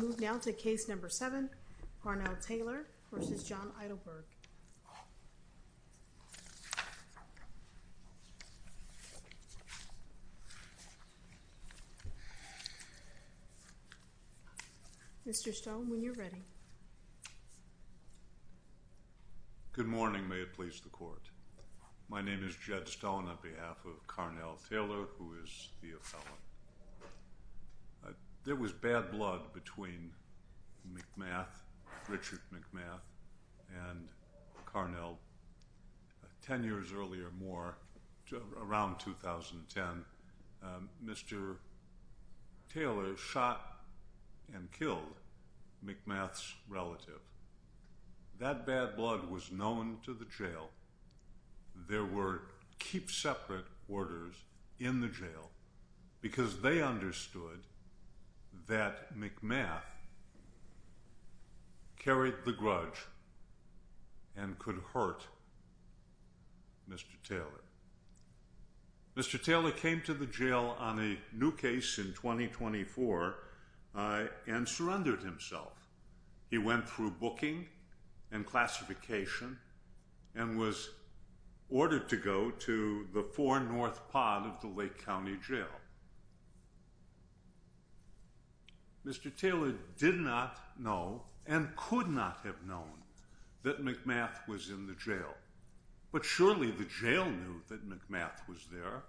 Good morning, may it please the court. My name is Jed Stone on behalf of Carnell Taylor, who is the appellant. There was bad blood between Richard McMath and Carnell Taylor ten years earlier, around 2010. Mr. Taylor shot and killed McMath's relative. That bad blood was known to the jail. There were keep-separate orders in the jail because they understood that McMath carried the grudge and could hurt Mr. Taylor. Mr. Taylor came to the jail on a new case in 2024 and surrendered himself. He went through booking and classification and was ordered to go to the four-north pod of the Lake County Jail. Mr. Taylor did not know and could not have known that McMath was in the jail, but surely the jail knew that McMath was there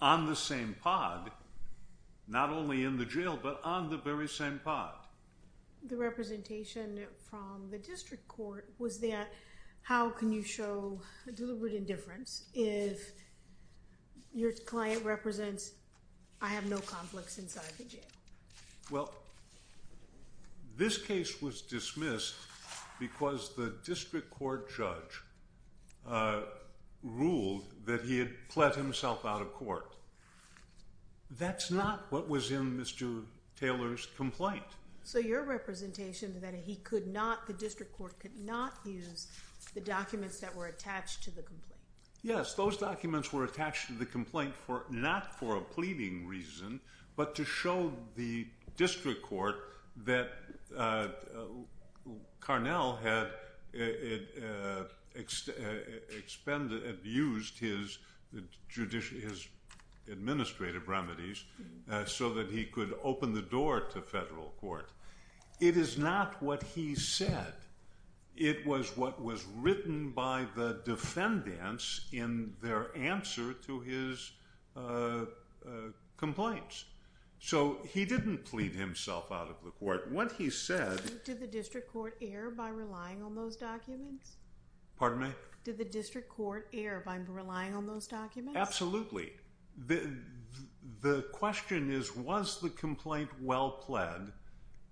on the same pod, not only in the jail but on the very same pod. The representation from the district court was that, how can you show deliberate indifference if your client represents, I have no conflicts inside the jail? Well, this case was dismissed because the district court judge ruled that he had pled himself out of court. That's not what was in Mr. Taylor's complaint. So your representation that he could not, the district court could not use the documents that were attached to the complaint. Yes, those documents were attached to the complaint not for a pleading reason, but to show the district court that Carnell had abused his administrative remedies so that he could open the door to federal court. It is not what he said. It was what was written by the defendants in their answer to his complaints. So he didn't plead himself out of the court. What he said... Did the district court err by relying on those documents? Pardon me? Did the district court err by relying on those documents? Absolutely. The question is, was the complaint well pled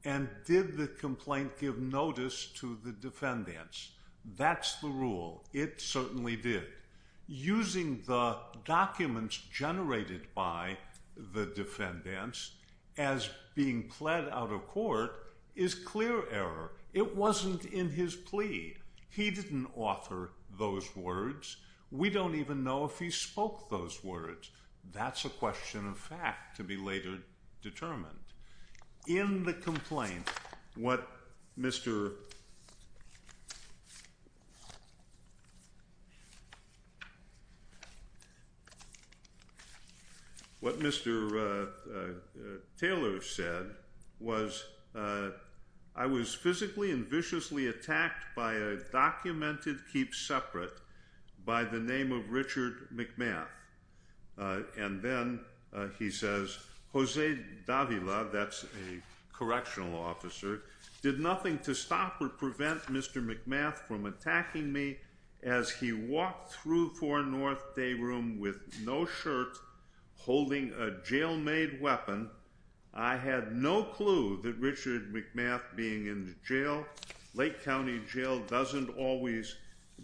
and did the complaint give notice to the defendants? That's the rule. It certainly did. Using the documents generated by the defendants as being pled out of court is clear error. It wasn't in his plea. He didn't offer those words. We don't even know if he spoke those words. That's a question of fact to be later determined. In the complaint, what Mr. Taylor said was, I was physically and viciously attacked by a documented keep separate by the name of Richard McMath. And then he says, Jose Davila, that's a correctional officer, did nothing to stop or prevent Mr. McMath from attacking me as he walked through Four North Day Room with no shirt, holding a jail made weapon. I had no clue that Richard McMath being in the jail, Lake County Jail, doesn't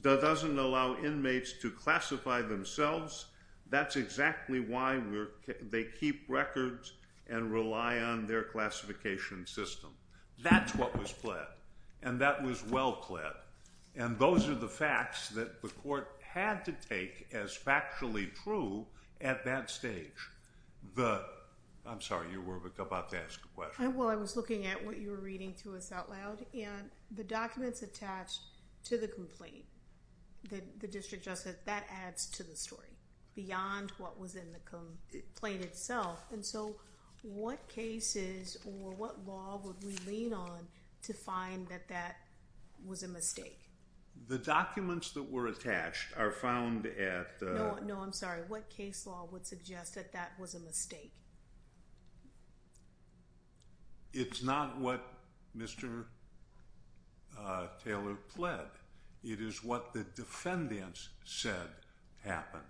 allow inmates to classify themselves. That's exactly why they keep records and rely on their classification system. That's what was pled. And that was well pled. And those are the facts that the court had to take as factually true at that stage. I'm sorry, you were about to ask a question. Well, I was looking at what you were reading to us out loud, and the documents attached to the complaint, the district justice, that adds to the story beyond what was in the complaint itself. And so, what cases or what law would we lean on to find that that was a mistake? The documents that were attached are found at the... No, I'm sorry. What case law would suggest that that was a mistake? It's not what Mr. Taylor pled. It is what the defendants said happened.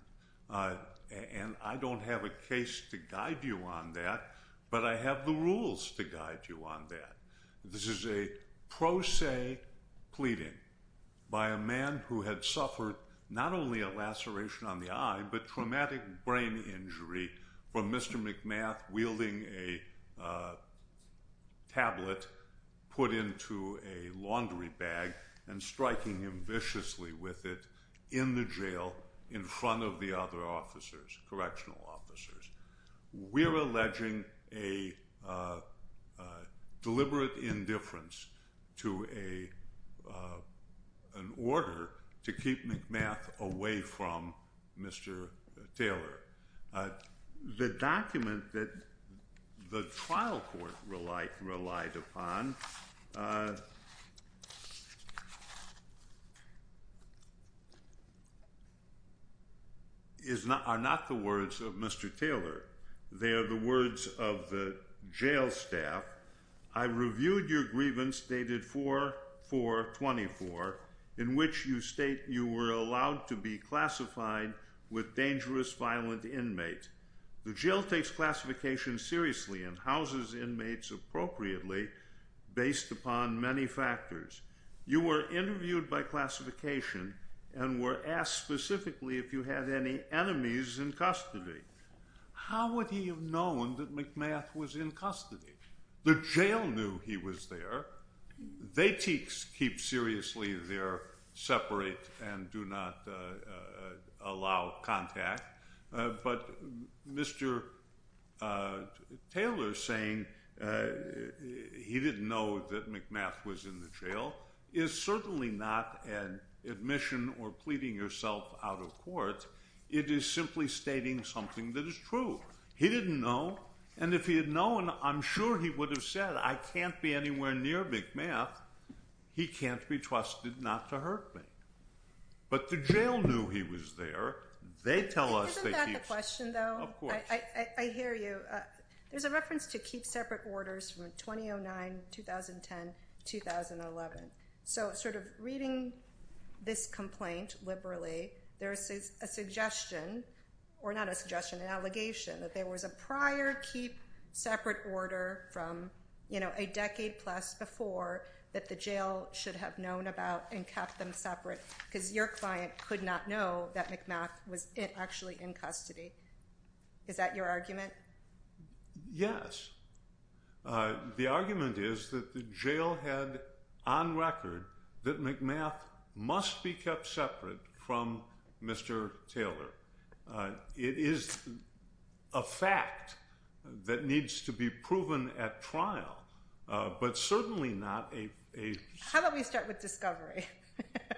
And I don't have a case to guide you on that, but I have the rules to guide you on that. This is a pro se pleading by a man who had suffered not only a laceration on the eye, but traumatic brain injury from Mr. McMath wielding a tablet put into a laundry bag and striking him viciously with it in the jail in front of the other officers, correctional We're alleging a deliberate indifference to an order to keep McMath away from Mr. Taylor. The document that the trial court relied upon are not the words of Mr. Taylor. They are the words of the jail staff. I reviewed your grievance dated 4-4-24 in which you state you were allowed to be classified with dangerous violent inmate. The jail takes classification seriously and houses inmates appropriately based upon many factors. You were interviewed by classification and were asked specifically if you had any enemies in custody. How would he have known that McMath was in custody? The jail knew he was there. They keep seriously their separate and do not allow contact. But Mr. Taylor saying he didn't know that McMath was in the jail is certainly not an admission or pleading yourself out of court. It is simply stating something that is true. He didn't know. And if he had known, I'm sure he would have said, I can't be anywhere near McMath. He can't be trusted not to hurt me. But the jail knew he was there. They tell us they keep... Isn't that the question though? Of course. I hear you. There's a reference to keep separate orders from 2009, 2010, 2011. So sort of reading this complaint liberally, there is a suggestion, or not a suggestion, an allegation that there was a prior keep separate order from a decade plus before that the jail should have known about and kept them separate because your client could not know that McMath was actually in custody. Is that your argument? Yes. The argument is that the jail had on record that McMath must be kept separate from Mr. Taylor. It is a fact that needs to be proven at trial, but certainly not a... How about we start with discovery?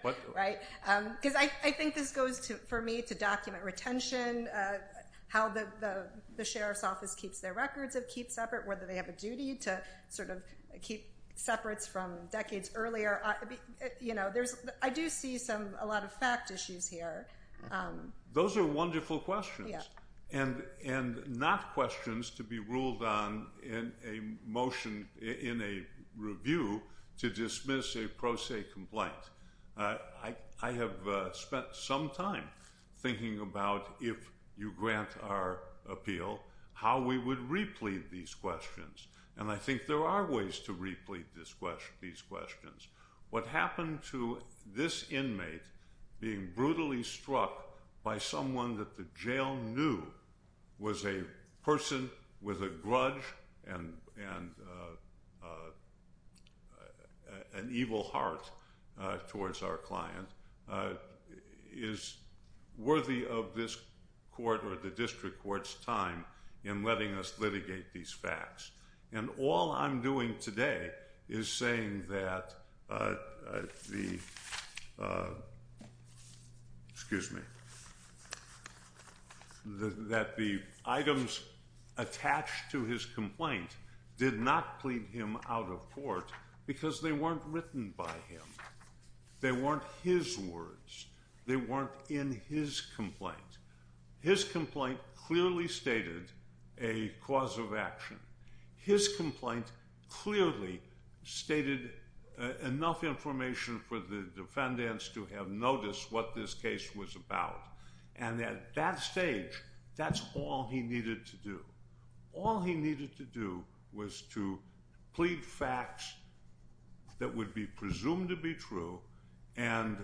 Because I think this goes for me to document retention, how the sheriff's office keeps their records of keep separate, whether they have a duty to sort of keep separates from decades earlier. I do see a lot of fact issues here. Those are wonderful questions, and not questions to be ruled on in a motion in a review to dismiss a pro se complaint. I have spent some time thinking about, if you grant our appeal, how we would replete these questions. And I think there are ways to replete these questions. What happened to this inmate being brutally struck by someone that the jail knew was a person with a grudge and an evil heart towards our client is worthy of this court or the district court's time in letting us litigate these facts. And all I'm doing today is saying that the items attached to his complaint did not plead him out of court because they weren't written by him. They weren't his words. They weren't in his complaint. His complaint clearly stated a cause of action. His complaint clearly stated enough information for the defendants to have noticed what this case was about. And at that stage, that's all he needed to do. All he needed to do was to plead facts that would be presumed to be true and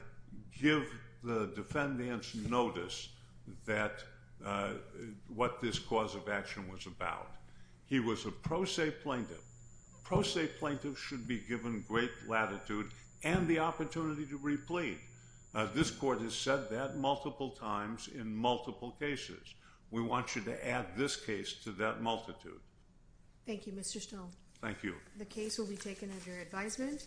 give the defendants notice that what this cause of action was about. He was a pro se plaintiff. Pro se plaintiffs should be given great latitude and the opportunity to replete. This court has said that multiple times in multiple cases. We want you to add this case to that multitude. Thank you, Mr. Stone. Thank you. The case will be taken under advisement.